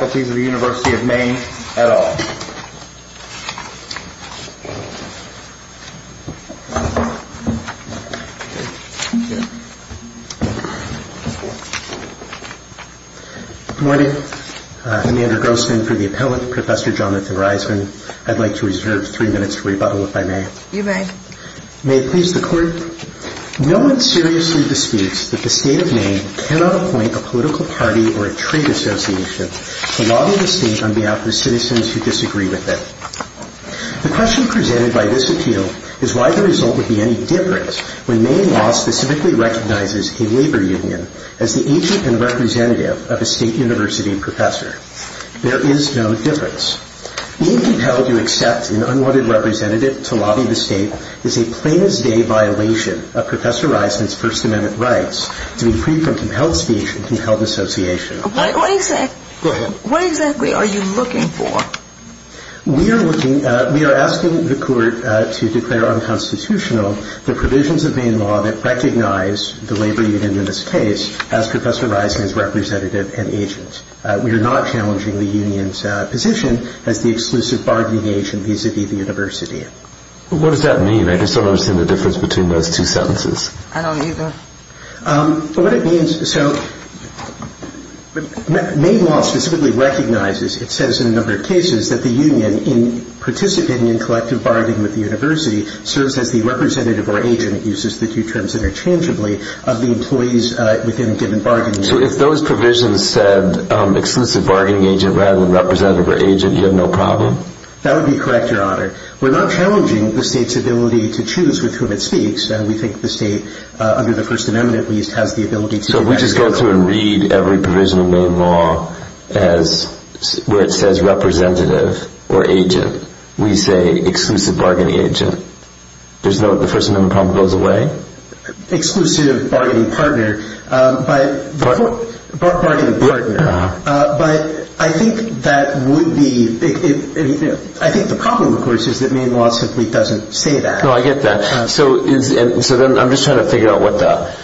of Maine, et al. Good morning. I'm Andrew Grossman for the Appellant, Professor Jonathan Reisman. I'd like to reserve three minutes to rebuttal, if I may. You may. May it please the Court. No one seriously disputes that the State of Maine cannot appoint a political party or a trade association to lobby the State on behalf of citizens who disagree with it. The question presented by this appeal is why the result would be any different when Maine law specifically recognizes a labor union as the agent and representative of a State University professor. There is no difference. Being compelled to accept an unwanted representative to lobby the State is a plain-as-day violation of Professor Reisman's First Amendment rights to be freed from compelled speech and compelled association. What exactly are you looking for? We are asking the Court to declare unconstitutional the provisions of Maine law that recognize the labor union in this case as Professor Reisman's representative and agent. We are not challenging the union's position as the exclusive bargaining agent vis-à-vis the university. What does that mean? I just don't understand the difference between those two sentences. I don't either. What it means, so Maine law specifically recognizes, it says in a number of cases, that the union in participating in collective bargaining with the university serves as the representative or agent, uses the two terms interchangeably, of the employees within a given bargaining union. So if those provisions said exclusive bargaining agent rather than representative or agent, you have no problem? That would be correct, Your Honor. We are not challenging the State's ability to choose with whom it speaks. We think the State, under the First Amendment at least, has the ability to do that. So we just go through and read every provision of Maine law where it says representative or agent. We say exclusive bargaining agent. The First Amendment problem goes away? Exclusive bargaining partner. But I think that would be, I think the problem of course is that Maine law simply doesn't say that. No, I get that. So I'm just trying to figure out what the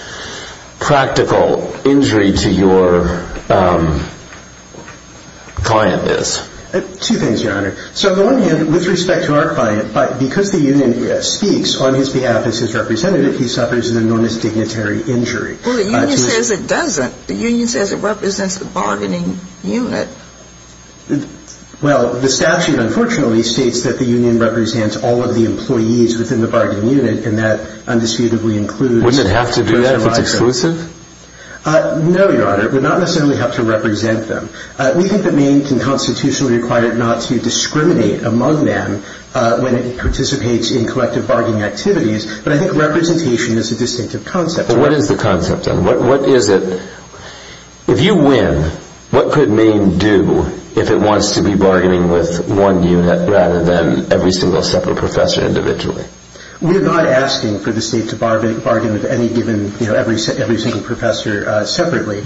practical injury to your client is. Two things, Your Honor. So on the one hand, with respect to our client, because the union speaks on his behalf as his representative, he suffers an enormous dignitary injury. Well, the union says it doesn't. The union says it represents the bargaining unit. Well, the statute, unfortunately, states that the union represents all of the employees within the bargaining unit, and that undisputably includes Wouldn't it have to do that if it's exclusive? No, Your Honor. It would not necessarily have to represent them. We think that Maine can constitutionally require it not to discriminate among them when it participates in collective bargaining activities. But I think representation is a distinctive concept. Well, what is the concept then? What is it? If you win, what could Maine do if it wants to be bargaining with one unit rather than every single separate professor individually? We're not asking for the state to bargain with any given, every single professor separately.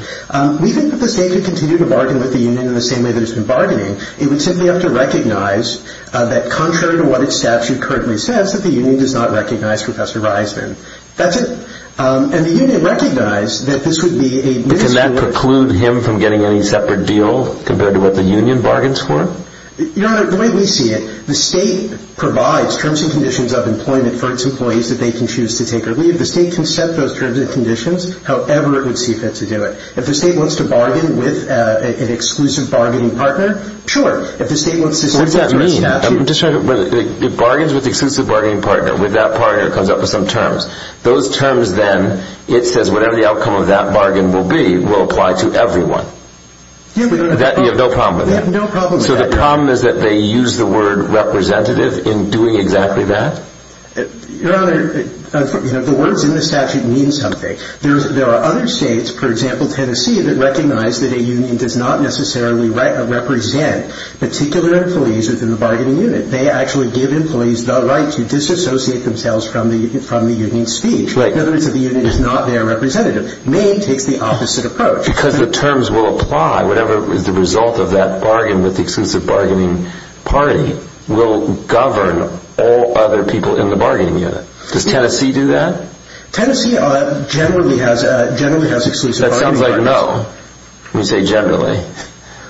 We think that the state could continue to bargain with the union in the same way that it's been bargaining. It would simply have to recognize that contrary to what its statute currently says, that the union does not recognize Professor Reisman. That's it. And the union recognized that this would be a But can that preclude him from getting any separate deal compared to what the union bargains for? Your Honor, the way we see it, the state provides terms and conditions of employment for its employees that they can choose to take or leave. The state can set those terms and conditions however it would see fit to do it. If the state wants to bargain with an exclusive bargaining partner, sure. If the state wants to What does that mean? If it bargains with the exclusive bargaining partner, with that partner, it comes up with some terms. Those terms then, it says whatever the outcome of that bargain will be, will apply to everyone. You have no problem with that? We have no problem with that. So the problem is that they use the word representative in doing exactly that? Your Honor, the words in the statute mean something. There are other states, for example Tennessee, that recognize that a union does not necessarily represent particular employees within the bargaining unit. They actually give employees the right to disassociate themselves from the union's speech. In other words, the unit is not their representative. Maine takes the opposite approach. Because the terms will apply, whatever is the result of that bargain with the exclusive bargaining party will govern all other people in the bargaining unit. Does Tennessee do that? Tennessee generally has exclusive bargaining partners. That sounds like no. When you say generally.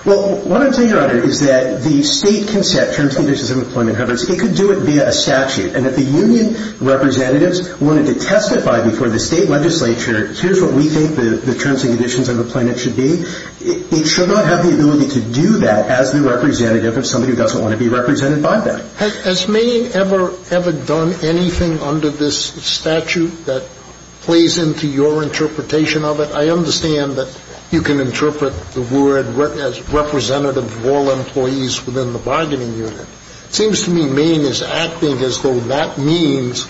Well, what I'm saying, Your Honor, is that the state can set terms and conditions of employment however it seems. It could do it via a statute. And if the union representatives wanted to testify before the state legislature, here's what we think the terms and conditions of employment should be, it should not have the ability to do that as the representative of somebody who doesn't want to be represented by that. Has Maine ever done anything under this statute that plays into your interpretation of it? I understand that you can interpret the word representative of all employees within the bargaining unit. It seems to me Maine is acting as though that means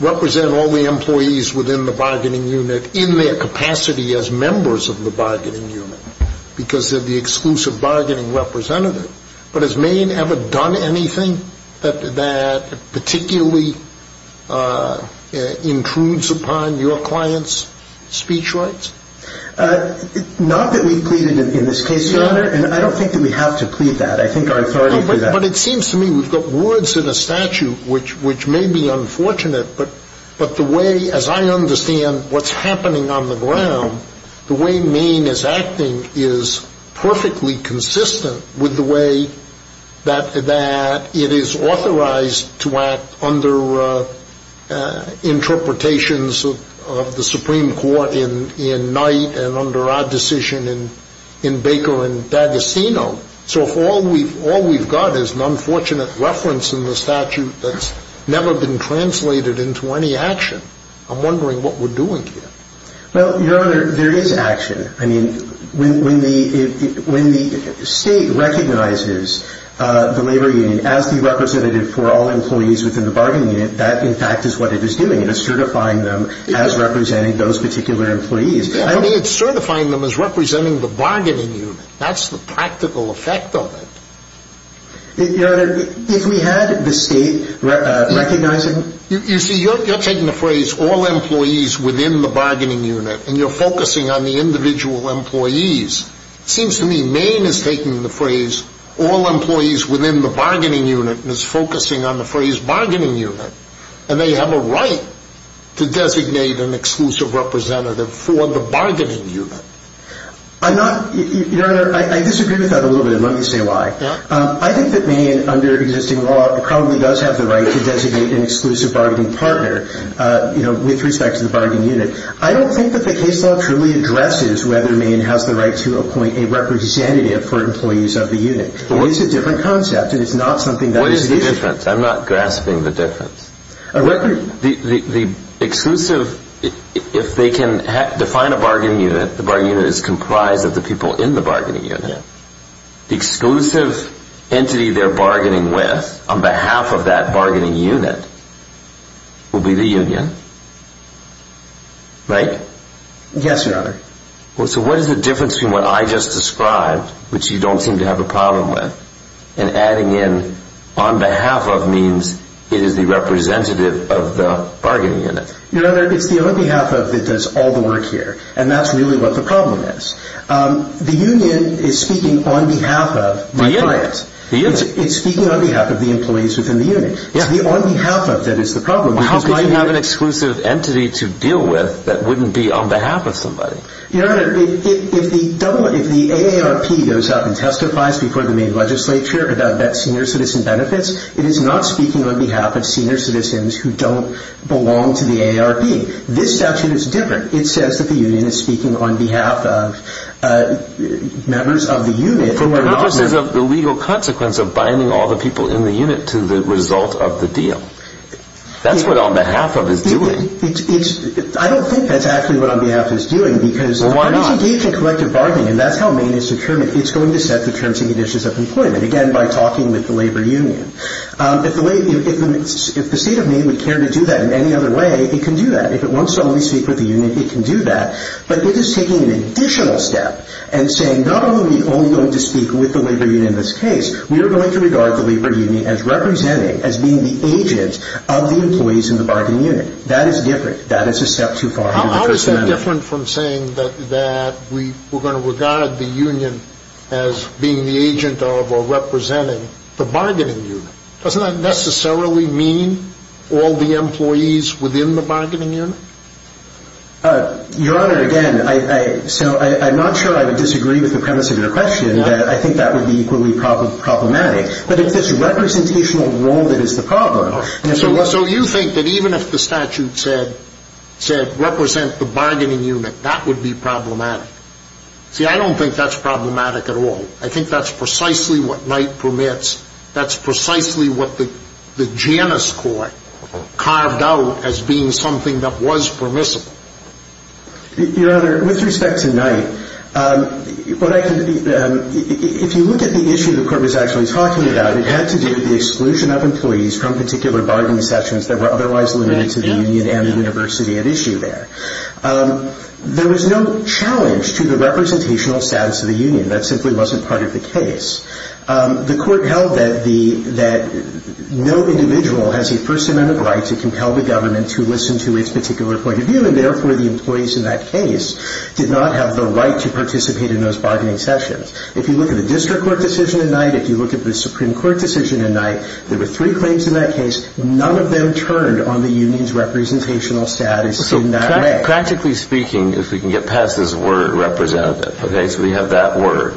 represent all the employees within the bargaining unit in their capacity as members of the bargaining unit because they're the exclusive bargaining representative. But has Maine ever done anything that particularly intrudes upon your client's speech rights? Not that we've pleaded in this case, Your Honor, and I don't think that we have to plead that. I think our authority to do that. But it seems to me we've got words in a statute which may be unfortunate, but the way, as I understand what's happening on the ground, the way Maine is acting is perfectly consistent with the way that it is authorized to act under interpretations of the Supreme Court in Knight and under our decision in Baker and D'Agostino. So if all we've got is an unfortunate reference in the statute that's never been translated into any action, I'm wondering what we're doing here. Well, Your Honor, there is action. I mean, when the State recognizes the labor union as the representative for all employees within the bargaining unit, that, in fact, is what it is doing. It is certifying them as representing those particular employees. I mean, it's certifying them as representing the bargaining unit. That's the practical effect of it. Your Honor, if we had the State recognizing... You see, you're taking the phrase all employees within the bargaining unit, and you're focusing on the individual employees. It seems to me Maine is taking the phrase all employees within the bargaining unit and is focusing on the phrase bargaining unit, and they have a right to designate an exclusive representative for the bargaining unit. I'm not... Your Honor, I disagree with that a little bit, and let me say why. Yeah? I think that Maine, under existing law, probably does have the right to designate an exclusive bargaining partner with respect to the bargaining unit. I don't think that the case law truly addresses whether Maine has the right to appoint a representative for employees of the unit. It is a different concept, and it's not something that is the issue. What is the difference? I'm not grasping the difference. The exclusive... If they can define a bargaining unit, the bargaining unit is comprised of the people in the bargaining unit. The exclusive entity they're bargaining with, on behalf of that bargaining unit, will be the union. Right? Yes, Your Honor. So what is the difference between what I just described, which you don't seem to have a representative of the bargaining unit? Your Honor, it's the on behalf of that does all the work here, and that's really what the problem is. The union is speaking on behalf of my client. The unit? The unit. It's speaking on behalf of the employees within the unit. Yeah. It's the on behalf of that is the problem. Well, how could you have an exclusive entity to deal with that wouldn't be on behalf of somebody? Your Honor, if the AARP goes out and testifies before the Maine legislature about that senior citizen benefits, it is not speaking on behalf of senior citizens who don't belong to the AARP. This statute is different. It says that the union is speaking on behalf of members of the unit who are not... The legal consequence of binding all the people in the unit to the result of the deal. That's what on behalf of is doing. I don't think that's actually what on behalf is doing because... Well, why not? When it's engaged in collective bargaining, and that's how Maine is determined, it's going to set the terms and conditions of employment, again, by talking with the labor union. If the state of Maine would care to do that in any other way, it can do that. If it wants to only speak with the union, it can do that. But it is taking an additional step and saying not only are we only going to speak with the labor union in this case, we are going to regard the labor union as representing, as being the agent of the employees in the bargaining unit. That is different. That is a step too far. How is that different from saying that we're going to regard the union as being the agent of or representing the bargaining unit? Doesn't that necessarily mean all the employees within the bargaining unit? Your Honor, again, I'm not sure I would disagree with the premise of your question. I think that would be equally problematic. But it's this representational role that is the problem. So you think that even if the statute said represent the bargaining unit, that would be problematic? See, I don't think that's problematic at all. I think that's precisely what Knight permits. That's precisely what the Janus Court carved out as being something that was permissible. Your Honor, with respect to Knight, if you look at the issue the Court was actually talking about, it had to do with the exclusion of employees from particular bargaining sessions that were otherwise limited to the union and the university at issue there. There was no challenge to the representational status of the union. That simply wasn't part of the case. The Court held that no individual has a first amendment right to compel the government to listen to its particular point of view, and therefore the employees in that case did not have the right to participate in those bargaining sessions. If you look at the district court decision in Knight, if you look at the Supreme Court decision in Knight, there were three claims in that case. None of them turned on the union's representational status in that way. Practically speaking, if we can get past this word representative, okay, so we have that word.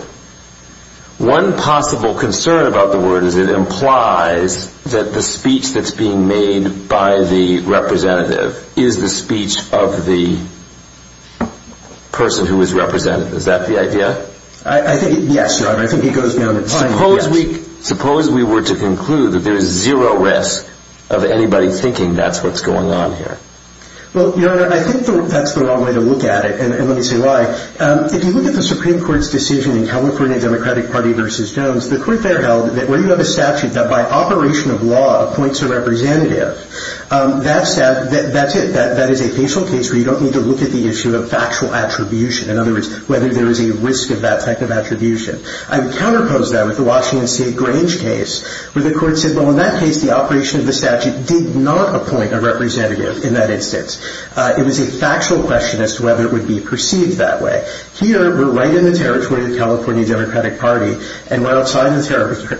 One possible concern about the word is it implies that the speech that's being made by the representative is the speech of the person who is represented. Is that the idea? Yes, Your Honor. I think it goes down in time. Suppose we were to conclude that there is zero risk of anybody thinking that's what's going on here. Well, Your Honor, I think that's the wrong way to look at it, and let me say why. If you look at the Supreme Court's decision in California Democratic Party v. Jones, the Court there held that where you have a statute that by operation of law appoints a representative, that's it. That is a facial case where you don't need to look at the issue of factual attribution, in other words, whether there is a risk of that type of attribution. I would counterpose that with the Washington State Grange case where the Court said, well, in that case, the operation of the statute did not appoint a representative in that instance. It was a factual question as to whether it would be perceived that way. Here, we're right in the territory of the California Democratic Party, and we're outside the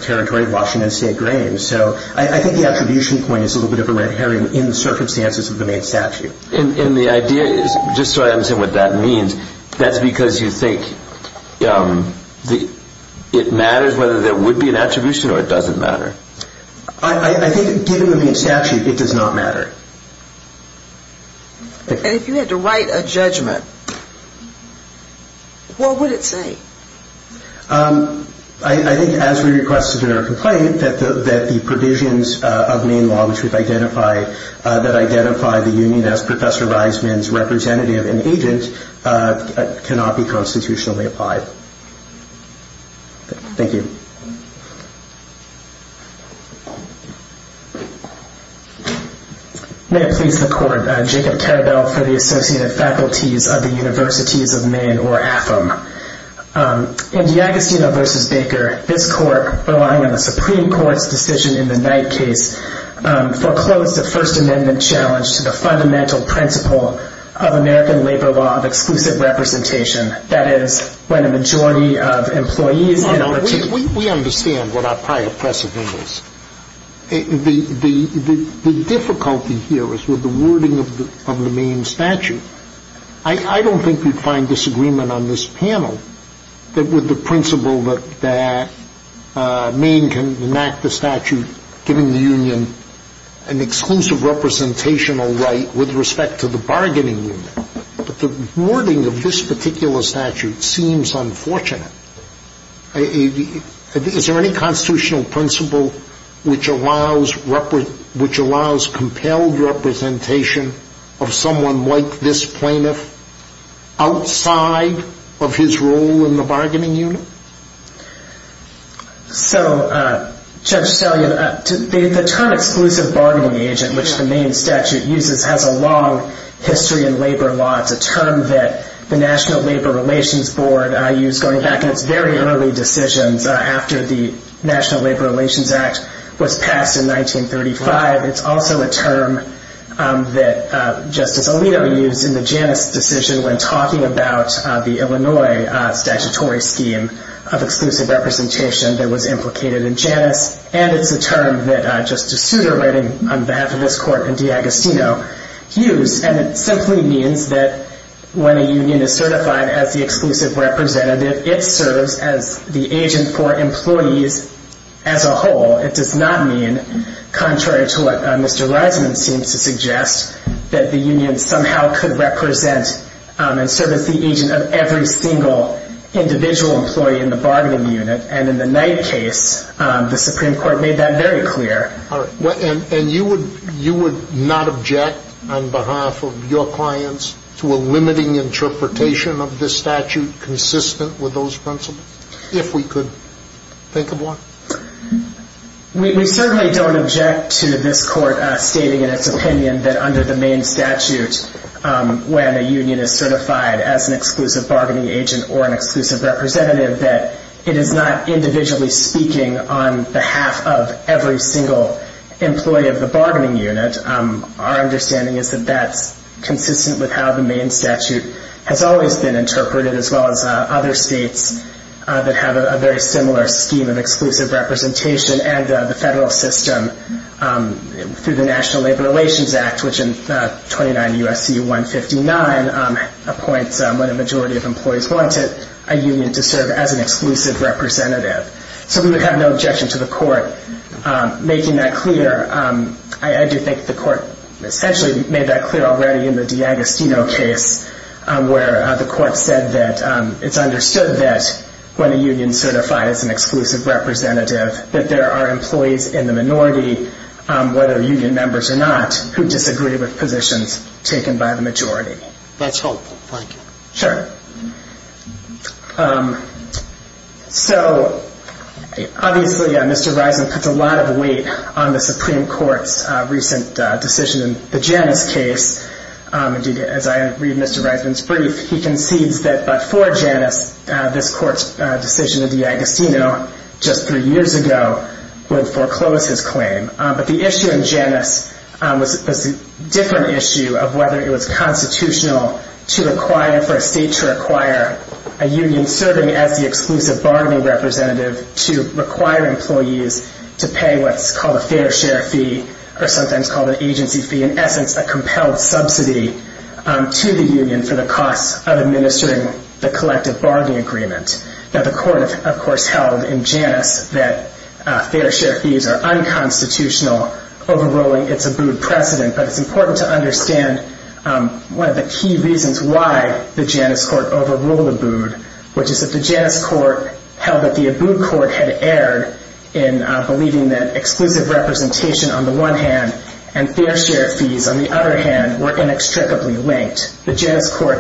territory of Washington State Grange. So I think the attribution point is a little bit of a red herring in the circumstances of the main statute. And the idea is, just so I understand what that means, that's because you think it matters whether there would be an attribution or it doesn't matter. I think given the main statute, it does not matter. And if you had to write a judgment, what would it say? I think as we requested in our complaint, that the provisions of main law which identify the union as Professor Reisman's representative and agent cannot be constitutionally applied. Thank you. May it please the Court. Jacob Carabell for the Associated Faculties of the Universities of Maine, or AFM. In Giacostino v. Baker, this Court, relying on the First Amendment challenge to the fundamental principle of American labor law of exclusive representation, that is, when a majority of employees in a... We understand what our prior precedent was. The difficulty here is with the wording of the main statute. I don't think we'd find disagreement on this panel that with the exclusive representational right with respect to the bargaining unit. But the wording of this particular statute seems unfortunate. Is there any constitutional principle which allows compelled representation of someone like this plaintiff outside of his role in the bargaining unit? So, Judge Stellian, the term exclusive bargaining agent, which the main statute uses, has a long history in labor law. It's a term that the National Labor Relations Board used going back in its very early decisions after the National Labor Relations Act was passed in 1935. It's also a term that Justice Alito used in the Janus decision when talking about the Illinois statutory scheme of exclusive representation that was implicated in Janus. And it's a term that Justice Souter, writing on behalf of this Court in Giacostino, used. And it simply means that when a union is certified as the exclusive representative, it serves as the agent for employees as a whole. It does not mean, contrary to what Mr. Reisman seems to suggest, that the union somehow could represent and serve as the agent of every single individual employee in the bargaining unit. And in the Knight case, the Supreme Court made that very clear. And you would not object on behalf of your clients to a limiting interpretation of this statute consistent with those principles, if we could think of one? We certainly don't object to this Court stating in its opinion that under the Maine statute, when a union is certified as an exclusive bargaining agent or an exclusive representative, that it is not individually speaking on behalf of every single employee of the bargaining unit. Our understanding is that that's consistent with how the Maine statute has always been interpreted, as well as other states that have a very similar scheme of exclusive representation and the federal system through the National Labor Relations Act, which in 29 U.S.C. 159 appoints, when a majority of employees want it, a union to serve as an exclusive representative. So we would have no objection to the Court making that clear. I do think the Court essentially made that clear already in the Giacostino case, where the Court said that it's understood that when a union is certified as an exclusive representative, that there are employees in the minority, whether union members or not, who disagree with positions taken by the majority. That's helpful. Thank you. Sure. So, obviously, Mr. Risen puts a lot of weight on the Supreme Court's recent decision in the Janus case. Indeed, as I read Mr. Risen's brief, he concedes that before Janus, this Court's decision in the Giacostino just three years ago would foreclose his claim. But the issue in Janus was a different issue of whether it was constitutional to require for a state to require a union serving as the exclusive bargaining representative to require employees to pay what's called a fair share fee, or sometimes called an agency fee, in essence, a compelled subsidy to the union for the costs of administering the collective bargaining agreement. Now, the Court, of course, held in Janus that fair share fees are unconstitutional overruling its Abood precedent. But it's important to understand one of the key reasons why the Janus Court overruled Abood, which is that the Janus Court held that the Abood Court had erred in believing that exclusive representation, on the one hand, and fair share fees, on the other hand, were inextricably linked. The Janus Court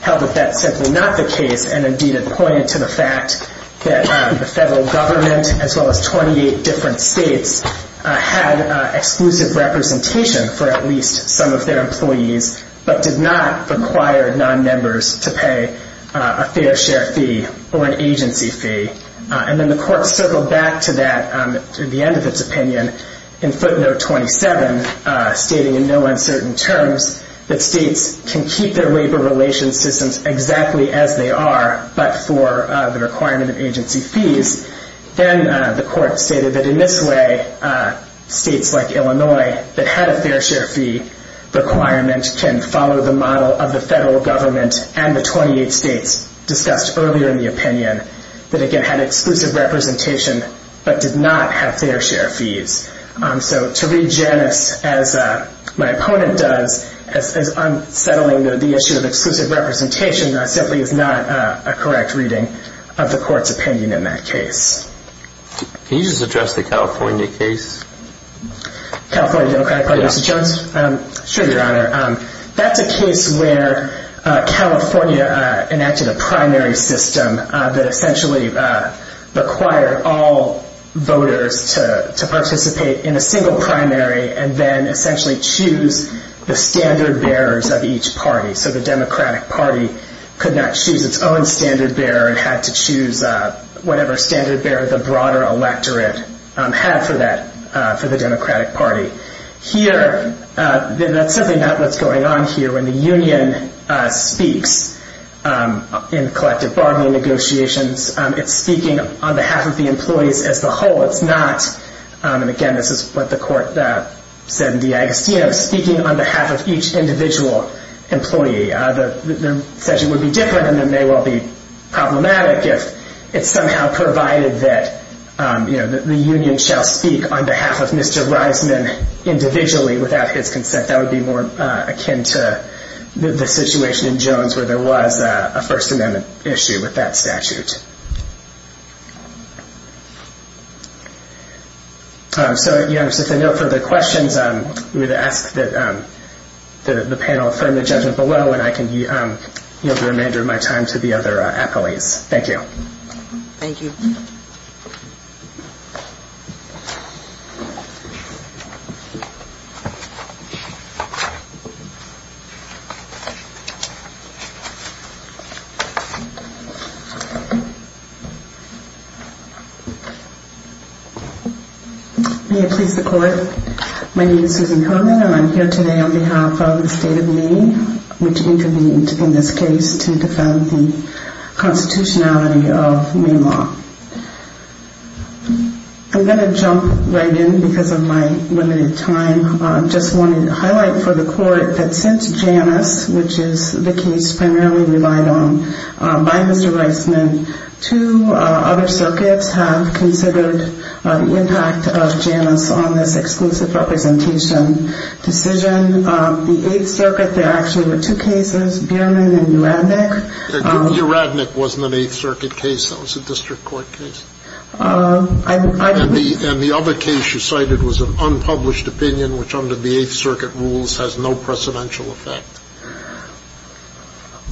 held that that's simply not the case, and, indeed, it pointed to the fact that the federal government, as well as 28 different states, had exclusive representation for at least some of their employees, but did not require non-members to pay a fair share fee or an agency fee. And then the Court circled back to that, to the end of its opinion, in footnote 27, stating in no uncertain terms that states can keep their labor relations systems exactly as they are, but for the requirement of agency fees. Then the Court stated that in this way, states like Illinois that had a fair share fee requirement can follow the model of the federal government and the 28 states discussed earlier in the opinion that, again, had exclusive representation, but did not have fair share fees. So to read Janus as my opponent does, as unsettling the issue of exclusive representation, simply is not a correct reading of the Court's opinion in that case. Can you just address the California case? Sure, Your Honor. That's a case where California enacted a primary system that essentially required all voters to participate in a single primary and then essentially choose the standard bearers of each party. So the Democratic Party could not choose its own standard bearer and had to choose whatever standard bearer the broader electorate had for the Democratic Party. Here, that's simply not what's going on here when the union speaks in collective bargaining negotiations. It's speaking on behalf of the employees as the whole. It's not, and again, this is what the Court said in DeAgostino, speaking on behalf of each individual employee. The statute would be different and it may well be problematic if it's somehow provided that the union shall speak on behalf of Mr. Reisman individually without his consent. That would be more akin to the situation in Jones where there was a First Amendment issue with that statute. So if there are no further questions, we would ask that the panel affirm the judgment below and I can yield the remainder of my time to the other appellees. Thank you. Thank you. May it please the Court. My name is Susan Komen and I'm here today on behalf of the State of Maine which intervened in this case to defend the constitutionality of Maine law. I'm going to jump right in because of my limited time. I just wanted to highlight for the Court that since Janus, which is the case primarily relied on by Mr. Reisman, two other circuits have considered the impact of Janus on this exclusive representation decision. The Eighth Circuit, there actually were two cases, Bierman and Uradnik. Uradnik wasn't an Eighth Circuit case, that was a district court case. And the other case you cited was an unpublished opinion which under the Eighth Circuit rules has no precedential effect.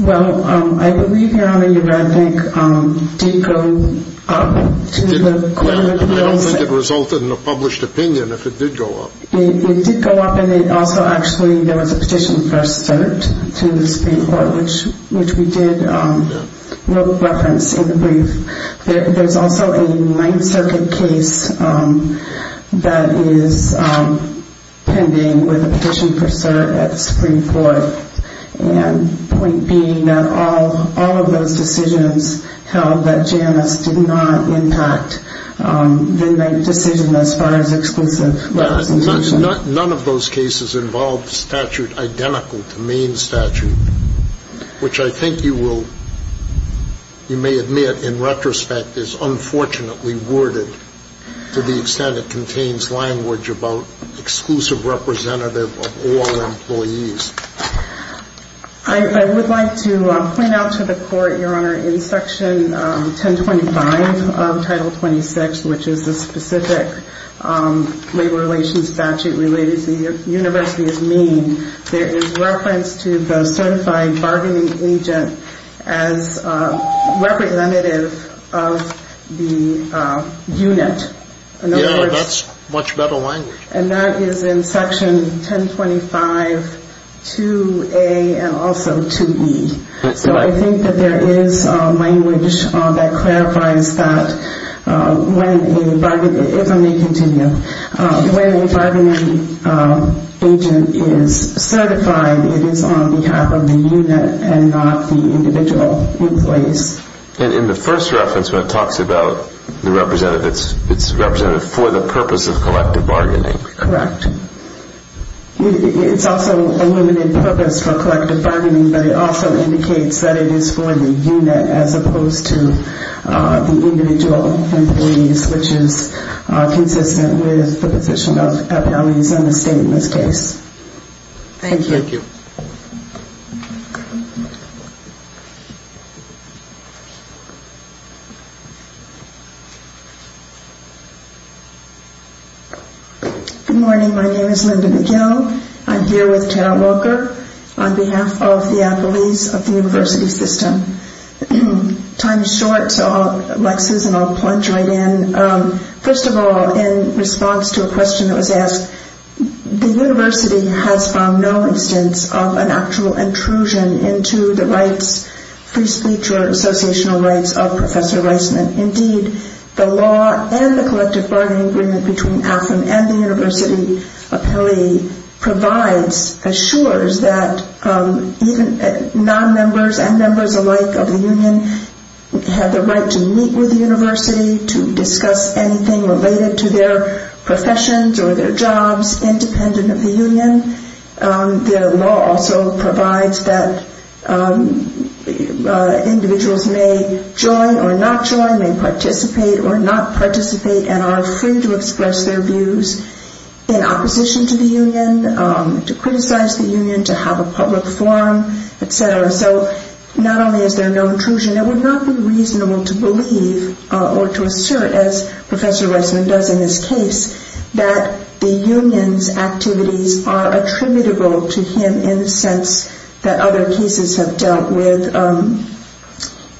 Well, I believe, Your Honor, Uradnik did go up to the Supreme Court. I don't think it resulted in a published opinion if it did go up. It did go up and it also actually, there was a petition for cert to the Supreme Court which we did reference in the brief. There's also a Ninth Circuit case that is pending with a petition for cert at the Supreme Court. And the point being that all of those decisions held that Janus did not impact the decision as far as exclusive representation. None of those cases involved a statute identical to Maine's statute, which I think you may admit in retrospect is unfortunately worded to the extent that it contains language about exclusive representative of all employees. I would like to point out to the Court, Your Honor, in Section 1025 of Title 26, which is the specific labor relations statute related to the University of Maine, there is reference to the certified bargaining agent as representative of the unit. Yeah, that's much better language. And that is in Section 1025-2A and also 2E. So I think that there is language that clarifies that when a bargaining agent is certified, it is on behalf of the unit and not the individual employees. And in the first reference when it talks about the representative, it's representative for the purpose of collective bargaining. Correct. It's also a limited purpose for collective bargaining, but it also indicates that it is for the unit as opposed to the individual employees, which is consistent with the position of counties and the state in this case. Thank you. Good morning. My name is Linda McGill. I'm here with Carol Walker on behalf of the employees of the university system. Time is short, so I'll plunge right in. First of all, in response to a question that was asked, the university has found no instance of an actual intrusion into the rights free speech or associational rights of Professor Reisman. Indeed, the law and the collective bargaining agreement between AFLM and the university provides, assures that even non-members and members alike of the union have the right to meet with the university to discuss anything related to their professions or their jobs independent of the union. The law also provides that individuals may join or not join, may participate or not participate, and are free to express their views in opposition to the union, to criticize the union, to have a public forum, et cetera. So not only is there no intrusion, it would not be reasonable to believe or to assert, as Professor Reisman does in his case, that the union's activities are attributable to him in the sense that other cases have dealt with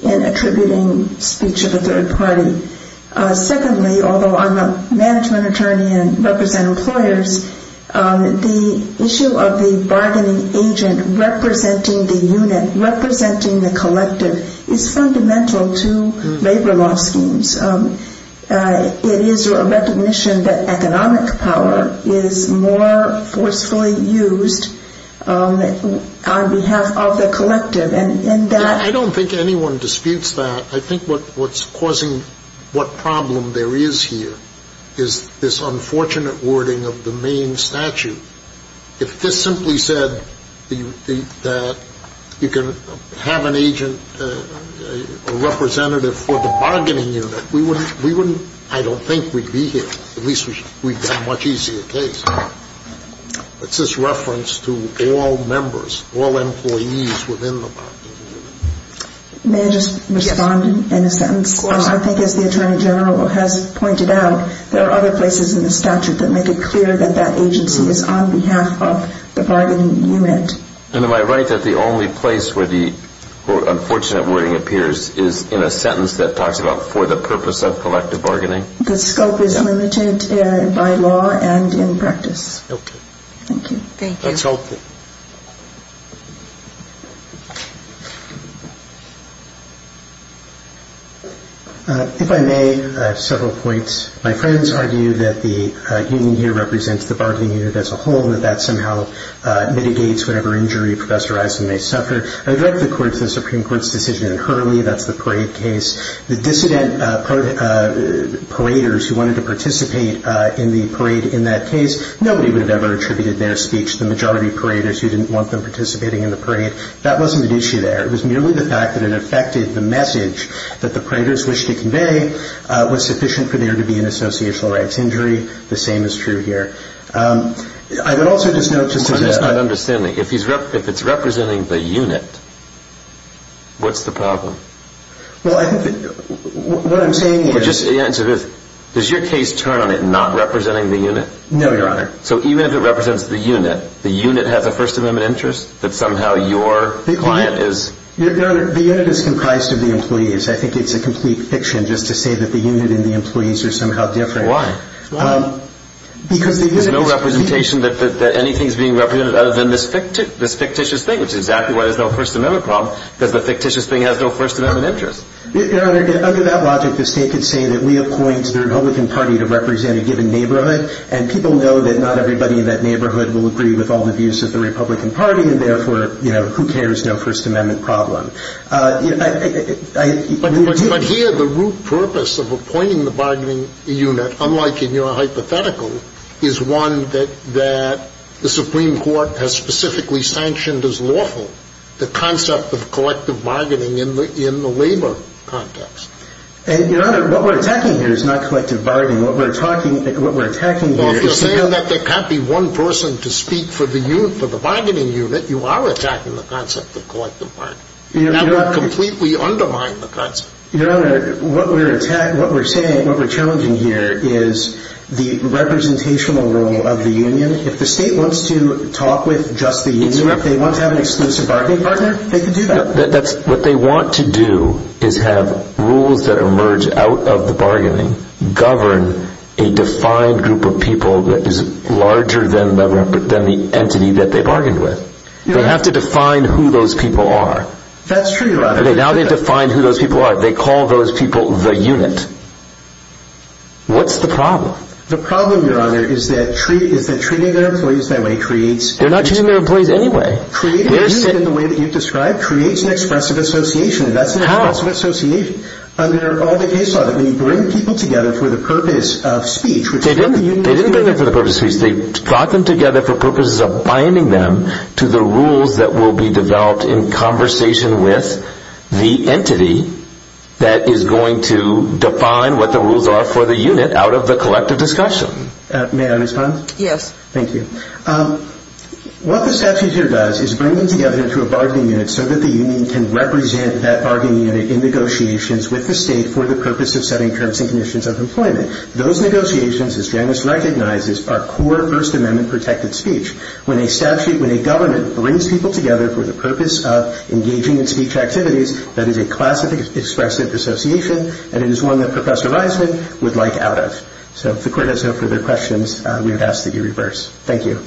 in attributing speech of a third party. Secondly, although I'm a management attorney and represent employers, the issue of the bargaining agent representing the unit, representing the collective, is fundamental to labor law schemes. It is a recognition that economic power is more forcefully used on behalf of the collective. I don't think anyone disputes that. I think what's causing what problem there is here is this unfortunate wording of the main statute. If this simply said that you can have an agent, a representative for the bargaining unit, we wouldn't, I don't think we'd be here, at least we've got a much easier case. It's this reference to all members, all employees within the bargaining unit. May I just respond in a sentence? Of course. I think as the Attorney General has pointed out, there are other places in the statute that make it clear that that agency is on behalf of the bargaining unit. And am I right that the only place where the unfortunate wording appears is in a sentence that talks about for the purpose of collective bargaining? The scope is limited by law and in practice. Okay. Thank you. Thank you. That's all. If I may, I have several points. My friends argue that the union here represents the bargaining unit as a whole and that that somehow mitigates whatever injury Professor Eisen may suffer. I direct the Supreme Court's decision in Hurley, that's the parade case. The dissident paraders who wanted to participate in the parade in that case, nobody would have ever attributed their speech to the majority of paraders who didn't want them participating in the parade. That wasn't an issue there. It was merely the fact that it affected the message that the paraders wished to convey was sufficient for there to be an associational rights injury. The same is true here. I would also just note just a point. I'm just not understanding. If it's representing the unit, what's the problem? Well, I think what I'm saying is. Just to answer this, does your case turn on it not representing the unit? No, Your Honor. So even if it represents the unit, the unit has a First Amendment interest that somehow your client is. Your Honor, the unit is comprised of the employees. I think it's a complete fiction just to say that the unit and the employees are somehow different. Why? Because the unit is. There's no representation that anything is being represented other than this fictitious thing, which is exactly why there's no First Amendment problem, because the fictitious thing has no First Amendment interest. Your Honor, under that logic, the State could say that we appoint the Republican Party to represent a given neighborhood, and people know that not everybody in that neighborhood will agree with all the views of the Republican Party, and therefore, you know, who cares? No First Amendment problem. But here the root purpose of appointing the bargaining unit, unlike in your hypothetical, is one that the Supreme Court has specifically sanctioned as lawful, the concept of collective bargaining in the labor context. Your Honor, what we're attacking here is not collective bargaining. What we're attacking here is. Well, if you're saying that there can't be one person to speak for the bargaining unit, you are attacking the concept of collective bargaining. That would completely undermine the concept. Your Honor, what we're saying, what we're challenging here is the representational role of the union. If the State wants to talk with just the union, if they want to have an exclusive bargaining partner, they can do that. What they want to do is have rules that emerge out of the bargaining govern a defined group of people that is larger than the entity that they bargained with. They have to define who those people are. That's true, Your Honor. Now they've defined who those people are. They call those people the unit. What's the problem? The problem, Your Honor, is that treating their employees that way creates. They're not treating their employees any way. Creating a unit in the way that you've described creates an expressive association, and that's an expressive association under all the case law. When you bring people together for the purpose of speech. They didn't bring them together for the purpose of speech. They brought them together for purposes of binding them to the rules that will be developed in conversation with the entity that is going to define what the rules are for the unit out of the collective discussion. May I respond? Yes. Thank you. What the statute here does is bring them together into a bargaining unit so that the union can represent that bargaining unit in negotiations with the state for the purpose of setting terms and conditions of employment. Those negotiations, as Janice recognizes, are core First Amendment protected speech. When a statute, when a government brings people together for the purpose of engaging in speech activities, that is a class of expressive association, and it is one that Professor Reisman would like out of. So if the Court has no further questions, we would ask that you reverse. Thank you.